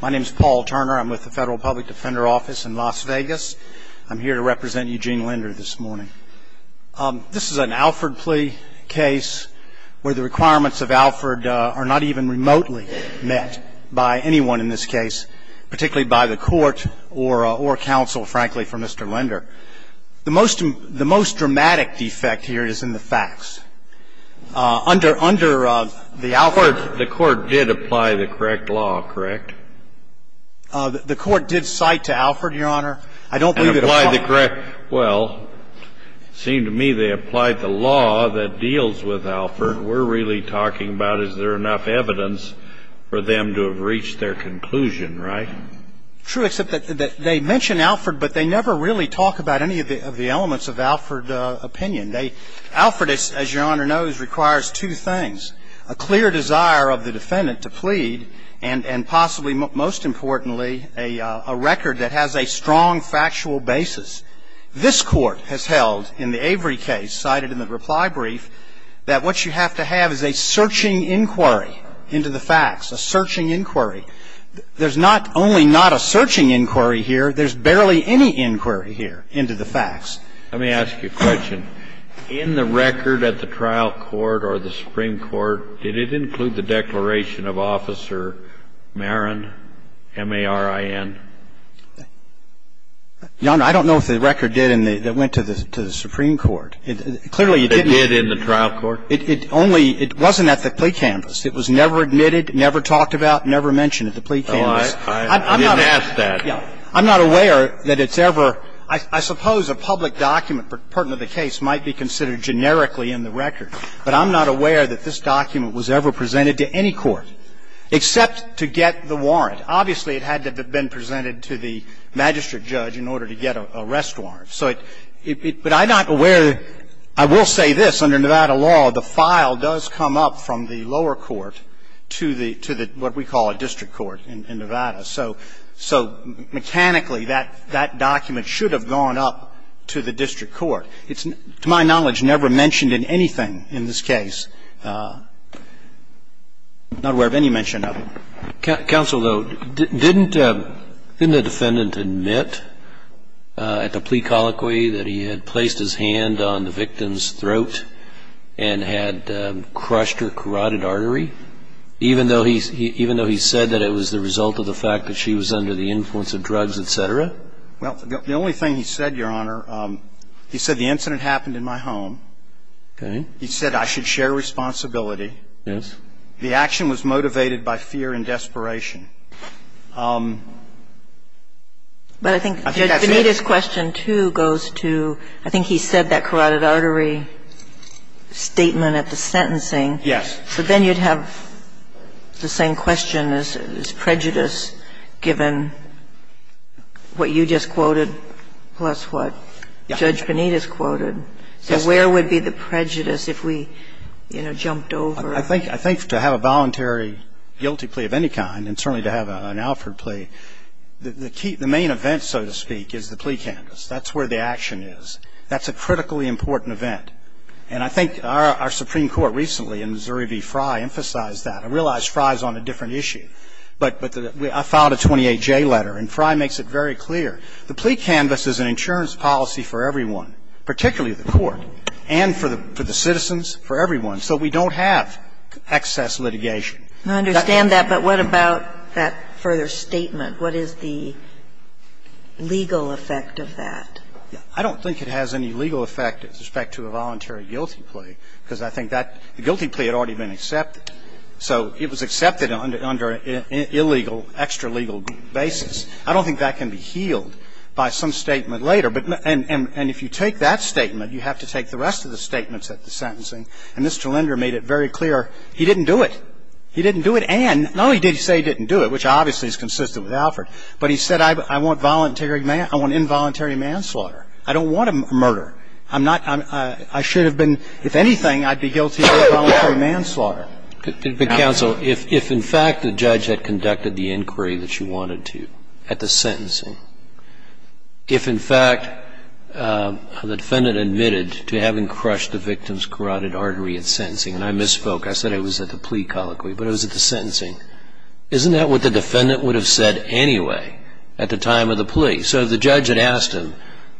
My name is Paul Turner. I'm with the Federal Public Defender Office in Las Vegas. I'm here to represent Eugene Linder this morning. This is an Alford plea case where the requirements of Alford are not even remotely met by anyone in this case, particularly by the court or counsel, frankly, for Mr. Linder. The most dramatic defect here is in the facts. Under the Alford ---- The court did apply the correct law, correct? The court did cite to Alford, Your Honor. I don't believe it ---- And apply the correct ---- well, it seemed to me they applied the law that deals with Alford. We're really talking about is there enough evidence for them to have reached their conclusion, right? True, except that they mention Alford, but they never really talk about any of the elements of Alford opinion. Alford, as Your Honor knows, requires two things, a clear desire of the defendant to plead and possibly, most importantly, a record that has a strong factual basis. This Court has held in the Avery case cited in the reply brief that what you have to have is a searching inquiry into the facts, a searching inquiry. There's not only not a searching inquiry here, there's barely any inquiry here into the facts. Let me ask you a question. In the record at the trial court or the Supreme Court, did it include the declaration of Officer Marin, M-A-R-I-N? Your Honor, I don't know if the record did in the ---- that went to the Supreme Court. Clearly, it didn't. It did in the trial court? It only ---- it wasn't at the plea canvass. It was never admitted, never talked about, never mentioned at the plea canvass. I didn't ask that. I'm not aware that it's ever ---- I suppose a public document pertinent to the case might be considered generically in the record, but I'm not aware that this document was ever presented to any court except to get the warrant. Obviously, it had to have been presented to the magistrate judge in order to get a rest warrant. So it ---- but I'm not aware that ---- I will say this. Under Nevada law, the file does come up from the lower court to the ---- to the what we call a district court in Nevada. So mechanically, that document should have gone up to the district court. It's, to my knowledge, never mentioned in anything in this case. I'm not aware of any mention of it. Counsel, though, didn't the defendant admit at the plea colloquy that he had placed his hand on the victim's throat and had crushed her carotid artery, even though he said that it was the result of the fact that she was under the influence of drugs, et cetera? Well, the only thing he said, Your Honor, he said the incident happened in my home. Okay. He said I should share responsibility. Yes. The action was motivated by fear and desperation. But I think Judge Bonita's question, too, goes to ---- I think he said that carotid artery statement at the sentencing. Yes. So then you'd have the same question as prejudice given what you just quoted plus what Judge Bonita's quoted. Yes. So where would be the prejudice if we, you know, jumped over? I think to have a voluntary guilty plea of any kind, and certainly to have an Alford plea, the key ---- the main event, so to speak, is the plea canvass. That's where the action is. That's a critically important event. And I think our Supreme Court recently in Missouri v. Fry emphasized that. I realize Fry's on a different issue. But I filed a 28J letter, and Fry makes it very clear. The plea canvass is an insurance policy for everyone, particularly the court, and for the citizens, for everyone. So we don't have excess litigation. I understand that. But what about that further statement? What is the legal effect of that? I don't think it has any legal effect with respect to a voluntary guilty plea, because I think that guilty plea had already been accepted. So it was accepted under an illegal, extra-legal basis. I don't think that can be healed by some statement later. And if you take that statement, you have to take the rest of the statements at the sentencing. And Mr. Linder made it very clear he didn't do it. He didn't do it and no, he did say he didn't do it, which obviously is consistent with Alford. But he said, I want involuntary manslaughter. I don't want a murder. I'm not, I should have been, if anything, I'd be guilty of involuntary manslaughter. But, counsel, if in fact the judge had conducted the inquiry that you wanted to at the sentencing, if in fact the defendant admitted to having crushed the victim's carotid artery at sentencing, and I misspoke. I said it was at the plea colloquy, but it was at the sentencing. Isn't that what the defendant would have said anyway at the time of the plea? So if the judge had asked him,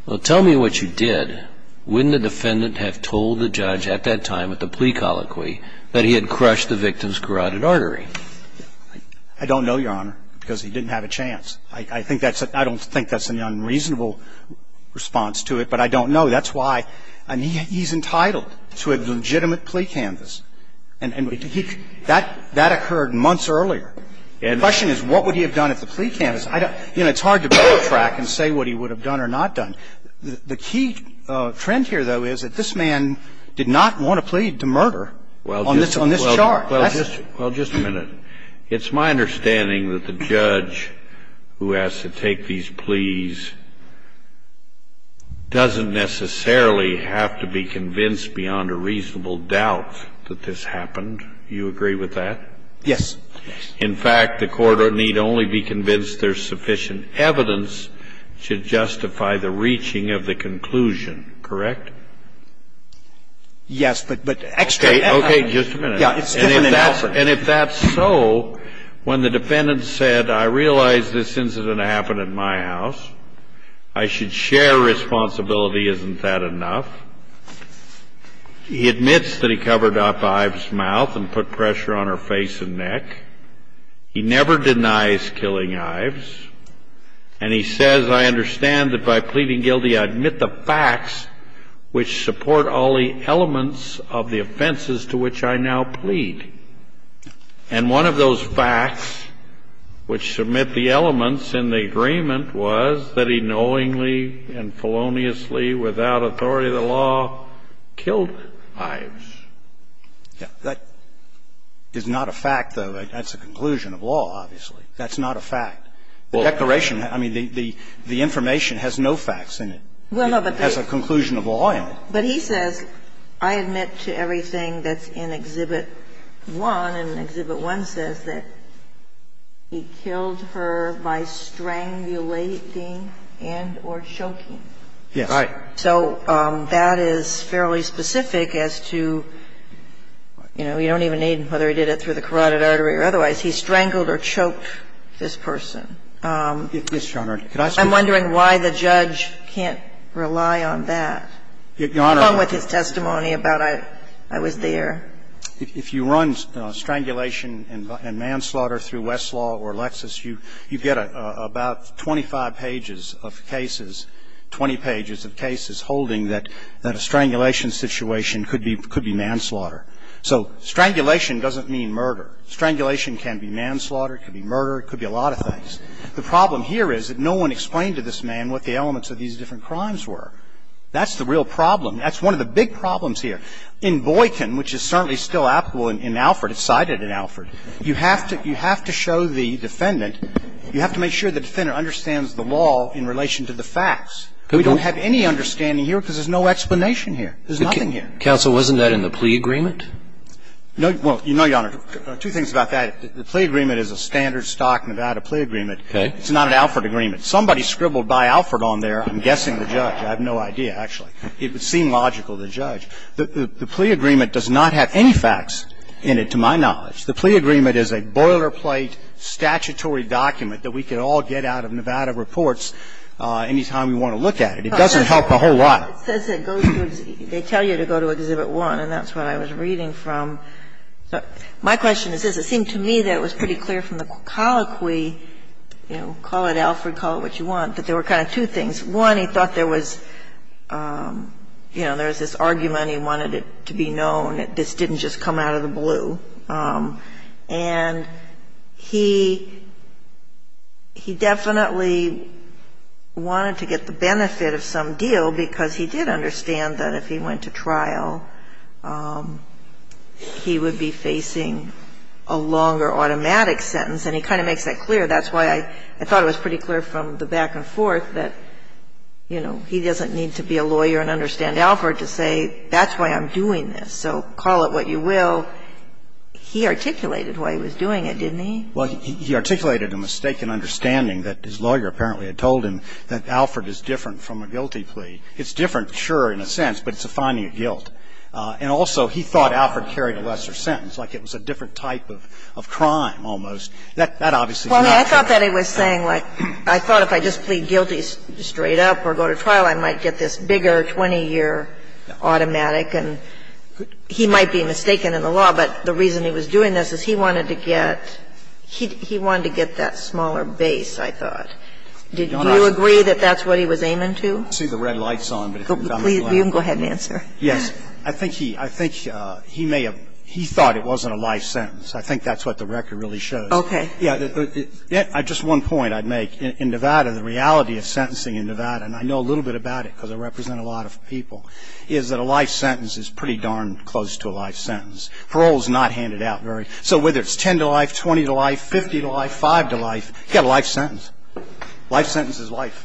well, tell me what you did, wouldn't the defendant have told the judge at that time at the plea colloquy that he had crushed the victim's carotid artery? I don't know, Your Honor, because he didn't have a chance. I think that's a, I don't think that's an unreasonable response to it, but I don't know. That's why, and he's entitled to a legitimate plea canvass. And he, that occurred months earlier. And the question is what would he have done at the plea canvass? I don't, you know, it's hard to backtrack and say what he would have done or not done. The key trend here, though, is that this man did not want to plead to murder on this charge. Well, just a minute. It's my understanding that the judge who has to take these pleas doesn't necessarily have to be convinced beyond a reasonable doubt that this happened. Do you agree with that? Yes. Yes. In fact, the court need only be convinced there's sufficient evidence to justify the reaching of the conclusion. Correct? Yes, but extra evidence. Okay. Just a minute. And if that's so, when the defendant said, I realize this incident happened in my house, I should share responsibility, isn't that enough? He admits that he covered up Ives' mouth and put pressure on her face and neck. He never denies killing Ives. And he says, I understand that by pleading guilty, I admit the facts which support all the elements of the offenses to which I now plead. And one of those facts which submit the elements in the agreement was that he knowingly and feloniously, without authority of the law, killed Ives. Yes. That is not a fact, though. That's a conclusion of law, obviously. That's not a fact. The declaration, I mean, the information has no facts in it. It has a conclusion of law in it. But he says, I admit to everything that's in Exhibit 1, and Exhibit 1 says that he killed her by strangulating and or choking. Yes. Right. So that is fairly specific as to, you know, you don't even need whether he did it through the carotid artery or otherwise. He strangled or choked this person. Yes, Your Honor. Could I speak to that? I'm wondering why the judge can't rely on that. Your Honor. Along with his testimony about I was there. If you run strangulation and manslaughter through Westlaw or Lexis, you get about 25 pages of cases, 20 pages of cases holding that a strangulation situation could be manslaughter. So strangulation doesn't mean murder. Strangulation can be manslaughter, it could be murder, it could be a lot of things. The problem here is that no one explained to this man what the elements of these different crimes were. That's the real problem. That's one of the big problems here. In Boykin, which is certainly still applicable in Alford, it's cited in Alford, you have to show the defendant, you have to make sure the defendant understands the law in relation to the facts. We don't have any understanding here because there's no explanation here. There's nothing here. Counsel, wasn't that in the plea agreement? No. Well, no, Your Honor. Two things about that. The plea agreement is a standard stock Nevada plea agreement. Okay. It's not an Alford agreement. Somebody scribbled by Alford on there. I'm guessing the judge. I have no idea, actually. It would seem logical to the judge. The plea agreement does not have any facts in it, to my knowledge. The plea agreement is a boilerplate statutory document that we could all get out of Nevada reports any time we want to look at it. It doesn't help a whole lot. It says it goes to the exhibit. They tell you to go to Exhibit 1, and that's what I was reading from. My question is this. It seemed to me that it was pretty clear from the colloquy, you know, call it Alford, call it what you want, that there were kind of two things. One, he thought there was, you know, there was this argument, he wanted it to be known that this didn't just come out of the blue. And he definitely wanted to get the benefit of some deal because he did understand that if he went to trial, he would be facing a longer automatic sentence. And he kind of makes that clear. That's why I thought it was pretty clear from the back and forth that, you know, he doesn't need to be a lawyer and understand Alford to say that's why I'm doing this, so call it what you will. He articulated why he was doing it, didn't he? Well, he articulated a mistaken understanding that his lawyer apparently had told him that Alford is different from a guilty plea. It's different, sure, in a sense, but it's a finding of guilt. And also he thought Alford carried a lesser sentence, like it was a different type of crime almost. That obviously is not true. Well, I thought that he was saying, like, I thought if I just plead guilty straight up or go to trial, I might get this bigger 20-year automatic, and he might be mistaken in the law, but the reason he was doing this is he wanted to get that smaller base, I thought. Do you agree that that's what he was aiming to? I don't see the red lights on, but if I'm not wrong. Please, you can go ahead and answer. Yes. I think he may have, he thought it wasn't a life sentence. I think that's what the record really shows. Okay. Yeah, just one point I'd make. In Nevada, the reality of sentencing in Nevada, and I know a little bit about it because I represent a lot of people, is that a life sentence is pretty darn close to a life sentence. Parole is not handed out very. So whether it's 10 to life, 20 to life, 50 to life, 5 to life, you get a life sentence. Life sentence is life.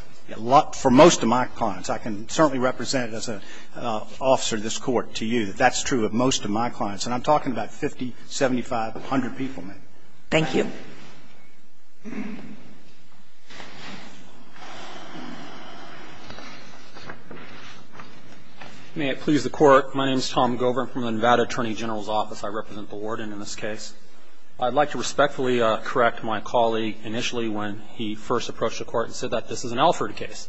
For most of my clients, I can certainly represent it as an officer in this Court to you, that that's true of most of my clients. And I'm talking about 50, 75, 100 people, ma'am. Thank you. May it please the Court. My name is Tom Gover. I'm from the Nevada Attorney General's Office. I represent the warden in this case. I'd like to respectfully correct my colleague initially when he first approached the Court and said that this is an Alford case.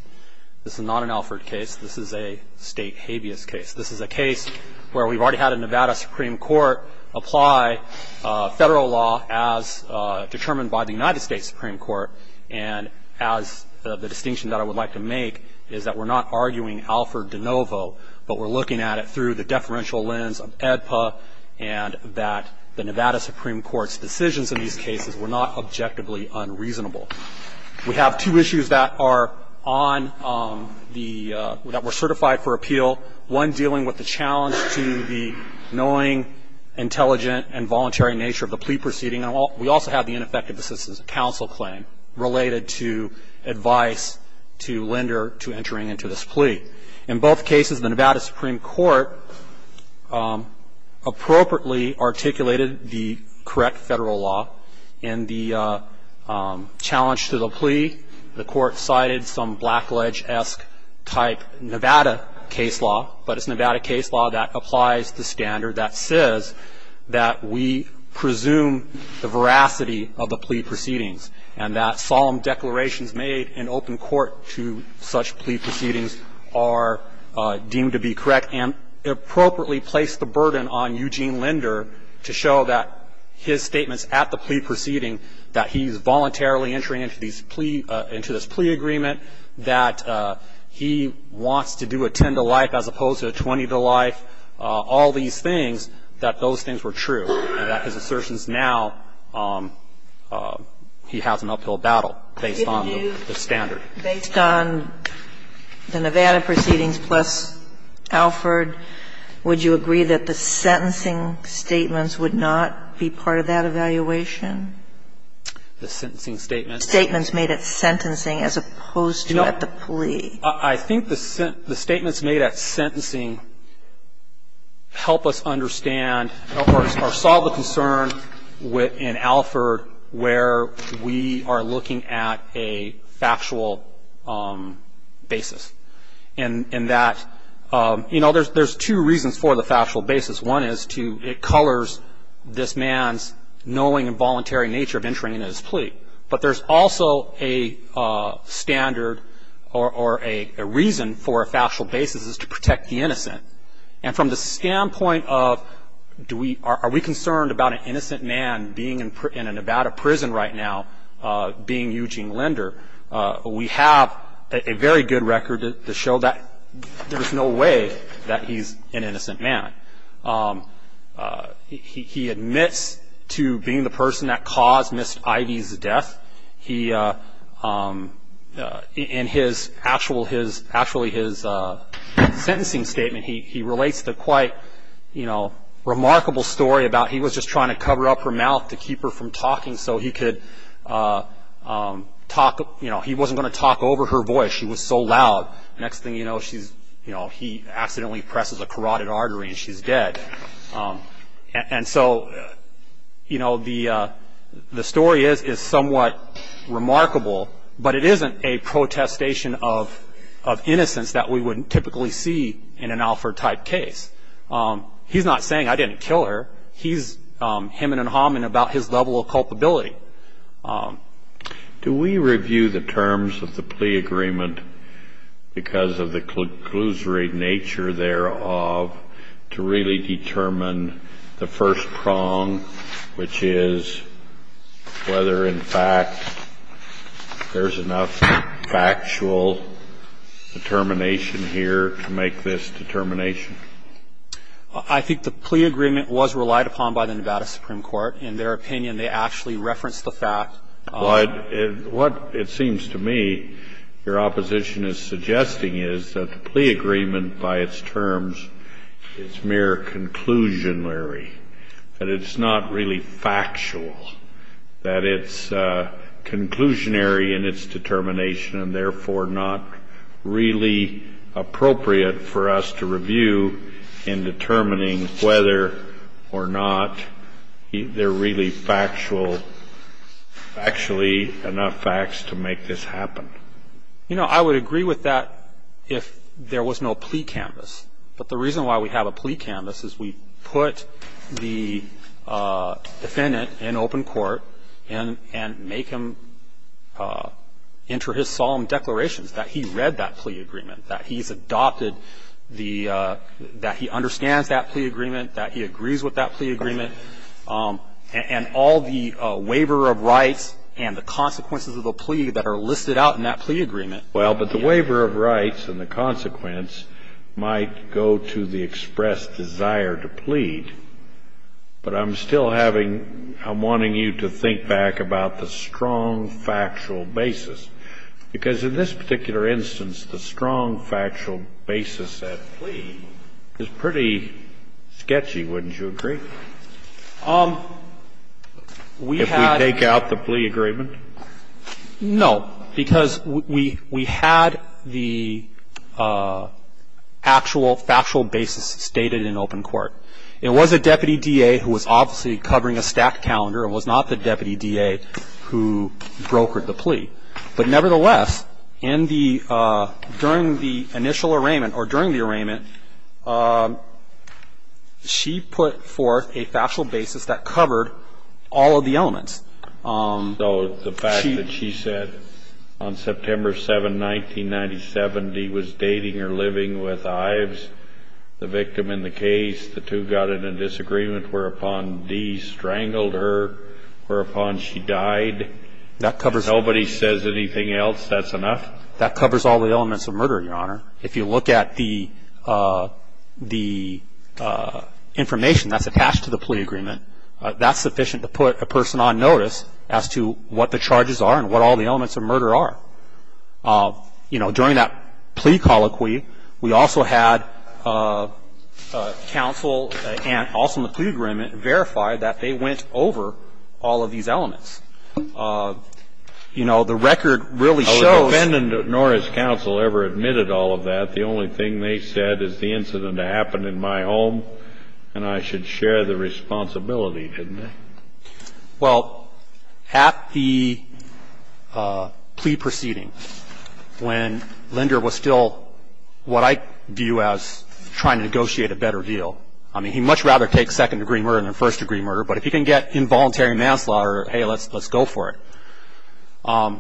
This is not an Alford case. This is a State habeas case. This is a case where we've already had a Nevada Supreme Court apply Federal law as determined by the United States Supreme Court. And the distinction that I would like to make is that we're not arguing Alford de novo, but we're looking at it through the deferential lens of AEDPA and that the Nevada Supreme Court's decisions in these cases were not objectively unreasonable. We have two issues that were certified for appeal, one dealing with the proceeding, and we also have the ineffective assistance of counsel claim related to advice to lender to entering into this plea. In both cases, the Nevada Supreme Court appropriately articulated the correct Federal law in the challenge to the plea. The Court cited some Blackledge-esque type Nevada case law, but it's Nevada case law that applies the standard that says that we presume the veracity of the plea proceedings, and that solemn declarations made in open court to such plea proceedings are deemed to be correct, and appropriately placed the burden on Eugene Linder to show that his statements at the plea proceeding, that he's voluntarily entering into these plea into this plea agreement, that he wants to do a 10-to-life as opposed to a 20-to-life, all these things, that those things were true, and that his assertions now, he has an uphill battle based on the standard. Based on the Nevada proceedings plus Alford, would you agree that the sentencing statements would not be part of that evaluation? The sentencing statements. Statements made at sentencing as opposed to at the plea. No. I think the statements made at sentencing help us understand or solve the concern in Alford where we are looking at a factual basis, and that, you know, there's two reasons for the factual basis. One is to, it colors this man's knowing and voluntary nature of entering into his plea, but there's also a standard or a reason for a factual basis is to protect the innocent. And from the standpoint of do we, are we concerned about an innocent man being in a Nevada prison right now being Eugene Linder, we have a very good record to show that there is no way that he's an innocent man. He admits to being the person that caused Ms. Ivey's death. He, in his, actually his sentencing statement, he relates the quite, you know, remarkable story about he was just trying to cover up her mouth to keep her from talking so he could talk, you know, he wasn't going to talk over her voice. She was so loud. Next thing you know, she's, you know, he accidentally presses a carotid artery and she's dead. And so, you know, the story is somewhat remarkable, but it isn't a protestation of innocence that we would typically see in an Alford type case. He's not saying I didn't kill her. He's hymning and humming about his level of culpability. Do we review the terms of the plea agreement because of the conclusory nature thereof to really determine the first prong, which is whether, in fact, there's enough factual determination here to make this determination? I think the plea agreement was relied upon by the Nevada Supreme Court. In their opinion, they actually referenced the fact of the plea agreement. What it seems to me your opposition is suggesting is that the plea agreement by its terms is mere conclusionary, that it's not really factual, that it's conclusionary in its determination and therefore not really appropriate for us to review in determining whether or not there are really factual, actually enough facts to make this happen. You know, I would agree with that if there was no plea canvas. But the reason why we have a plea canvas is we put the defendant in open court and make him enter his solemn declarations that he read that plea agreement, that he's adopted the – that he understands that plea agreement, that he agrees with that plea agreement, and all the waiver of rights and the consequences of the plea that are listed out in that plea agreement. Well, but the waiver of rights and the consequence might go to the expressed desire to plead. But I'm still having – I'm wanting you to think back about the strong factual basis. Because in this particular instance, the strong factual basis of that plea is pretty sketchy, wouldn't you agree? If we take out the plea agreement? No. Because we had the actual factual basis stated in open court. It was a deputy DA who was obviously covering a stacked calendar and was not the deputy DA who brokered the plea. But nevertheless, in the – during the initial arraignment or during the arraignment, she put forth a factual basis that covered all of the elements. So the fact that she said on September 7, 1997, D was dating or living with Ives, the victim in the case, the two got in a disagreement whereupon D strangled her, whereupon she died, nobody says anything else, that's enough? That covers all the elements of murder, Your Honor. If you look at the information that's attached to the plea agreement, that's sufficient to put a person on notice as to what the charges are and what all the elements of murder are. You know, during that plea colloquy, we also had counsel and also in the plea agreement verify that they went over all of these elements. You know, the record really shows that. The defendant nor has counsel ever admitted all of that. The only thing they said is the incident happened in my home and I should share the responsibility, didn't I? Well, at the plea proceeding, when Linder was still what I view as trying to negotiate a better deal, I mean, he'd much rather take second-degree murder than first-degree murder, but if he can get involuntary manslaughter, hey, let's go for it.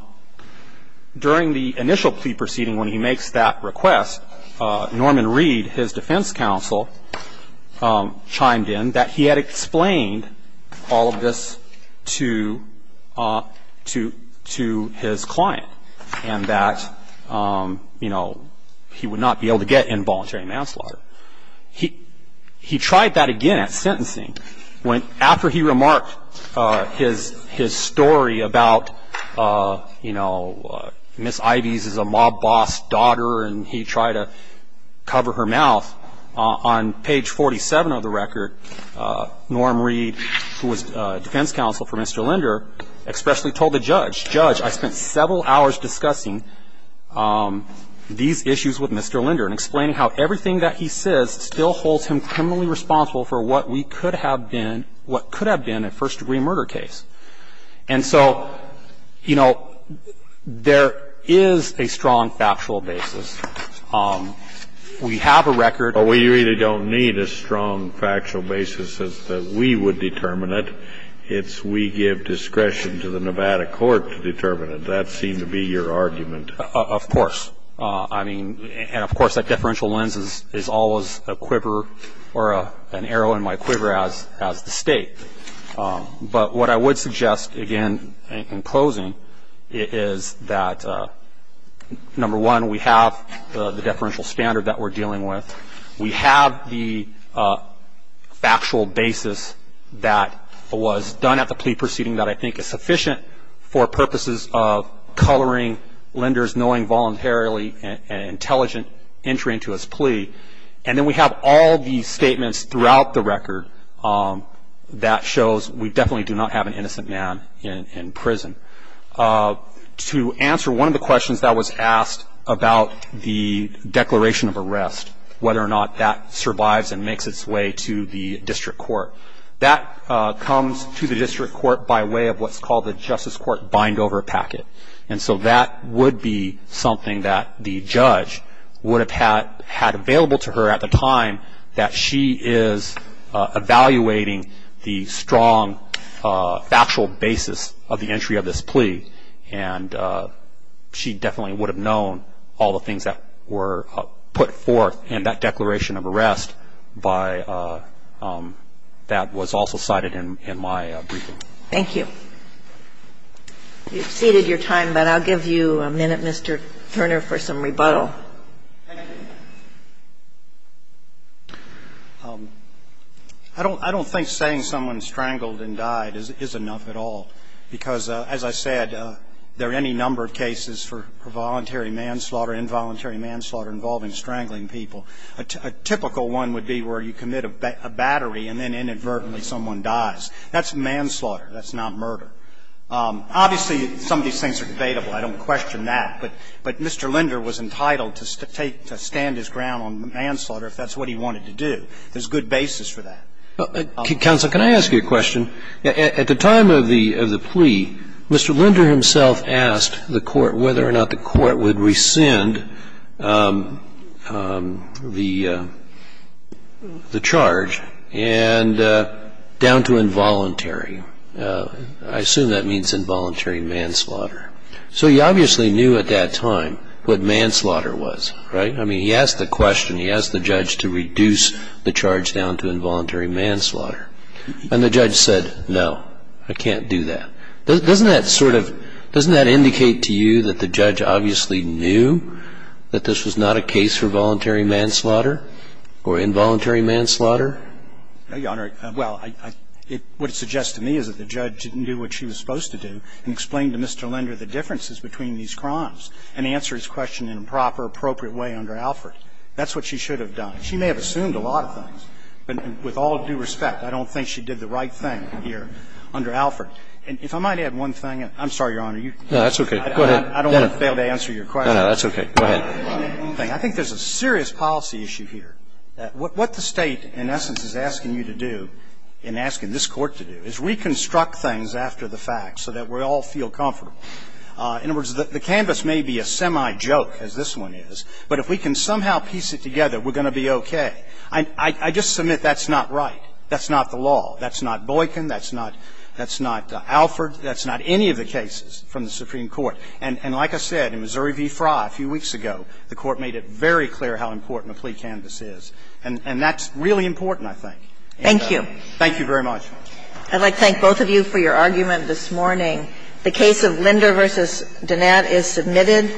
During the initial plea proceeding when he makes that request, Norman Reed, his defense counsel, chimed in that he had explained all of this to his client and that, you know, he would not be able to get involuntary manslaughter. He tried that again at sentencing. After he remarked his story about, you know, Miss Ives is a mob boss daughter and he tried to cover her mouth, on page 47 of the record, Norman Reed, who was defense counsel for Mr. Linder, expressly told the judge, Judge, I spent several hours discussing these issues with Mr. Linder and explaining how everything that he says still holds him criminally responsible for what we could have been, what could have been a first-degree murder case. And so, you know, there is a strong factual basis. We have a record. But we really don't need a strong factual basis that we would determine it. It's we give discretion to the Nevada court to determine it. That seemed to be your argument. Of course. I mean, and, of course, that deferential lens is always a quiver or an arrow in my quiver as the State. But what I would suggest, again, in closing, is that, number one, we have the deferential standard that we're dealing with. We have the factual basis that was done at the plea proceeding that I think is sufficient for purposes of coloring Linder's knowing voluntarily and intelligent entry into his plea. And then we have all the statements throughout the record that shows we definitely do not have an innocent man in prison. To answer one of the questions that was asked about the declaration of arrest, whether or not that survives and makes its way to the district court, that comes to the district court by way of what's called the justice court bind-over packet. And so that would be something that the judge would have had available to her at the time that she is evaluating the strong factual basis of the entry of this plea. And she definitely would have known all the things that were put forth in that declaration of arrest that was also cited in my briefing. Thank you. You've exceeded your time, but I'll give you a minute, Mr. Turner, for some rebuttal. Thank you. I don't think saying someone strangled and died is enough at all, because as I said, there are any number of cases for voluntary manslaughter, involuntary manslaughter involving strangling people. A typical one would be where you commit a battery and then inadvertently someone dies. That's manslaughter. That's not murder. Obviously, some of these things are debatable. I don't question that. But Mr. Linder was entitled to take to stand his ground on manslaughter if that's what he wanted to do. There's good basis for that. Counsel, can I ask you a question? At the time of the plea, Mr. Linder himself asked the court whether or not the court would rescind the charge down to involuntary. I assume that means involuntary manslaughter. So he obviously knew at that time what manslaughter was, right? I mean, he asked the question, he asked the judge to reduce the charge down to involuntary manslaughter. And the judge said, no, I can't do that. Doesn't that sort of – doesn't that indicate to you that the judge obviously knew that this was not a case for voluntary manslaughter or involuntary manslaughter? Your Honor, well, what it suggests to me is that the judge knew what she was supposed to do and explained to Mr. Linder the differences between these crimes and answered his question in a proper, appropriate way under Alford. That's what she should have done. She may have assumed a lot of things, but with all due respect, I don't think she did the right thing here under Alford. And if I might add one thing. I'm sorry, Your Honor. No, that's okay. Go ahead. I don't want to fail to answer your question. No, no, that's okay. Go ahead. I think there's a serious policy issue here. What the State, in essence, is asking you to do and asking this Court to do is reconstruct things after the fact so that we all feel comfortable. In other words, the canvas may be a semi-joke, as this one is, but if we can somehow piece it together, we're going to be okay. I just submit that's not right. That's not the law. That's not Boykin. That's not Alford. That's not any of the cases from the Supreme Court. And like I said, in Missouri v. Frye a few weeks ago, the Court made it very clear how important a plea canvas is. And that's really important, I think. Thank you. Thank you very much. I'd like to thank both of you for your argument this morning. The case of Linder v. Donat is submitted.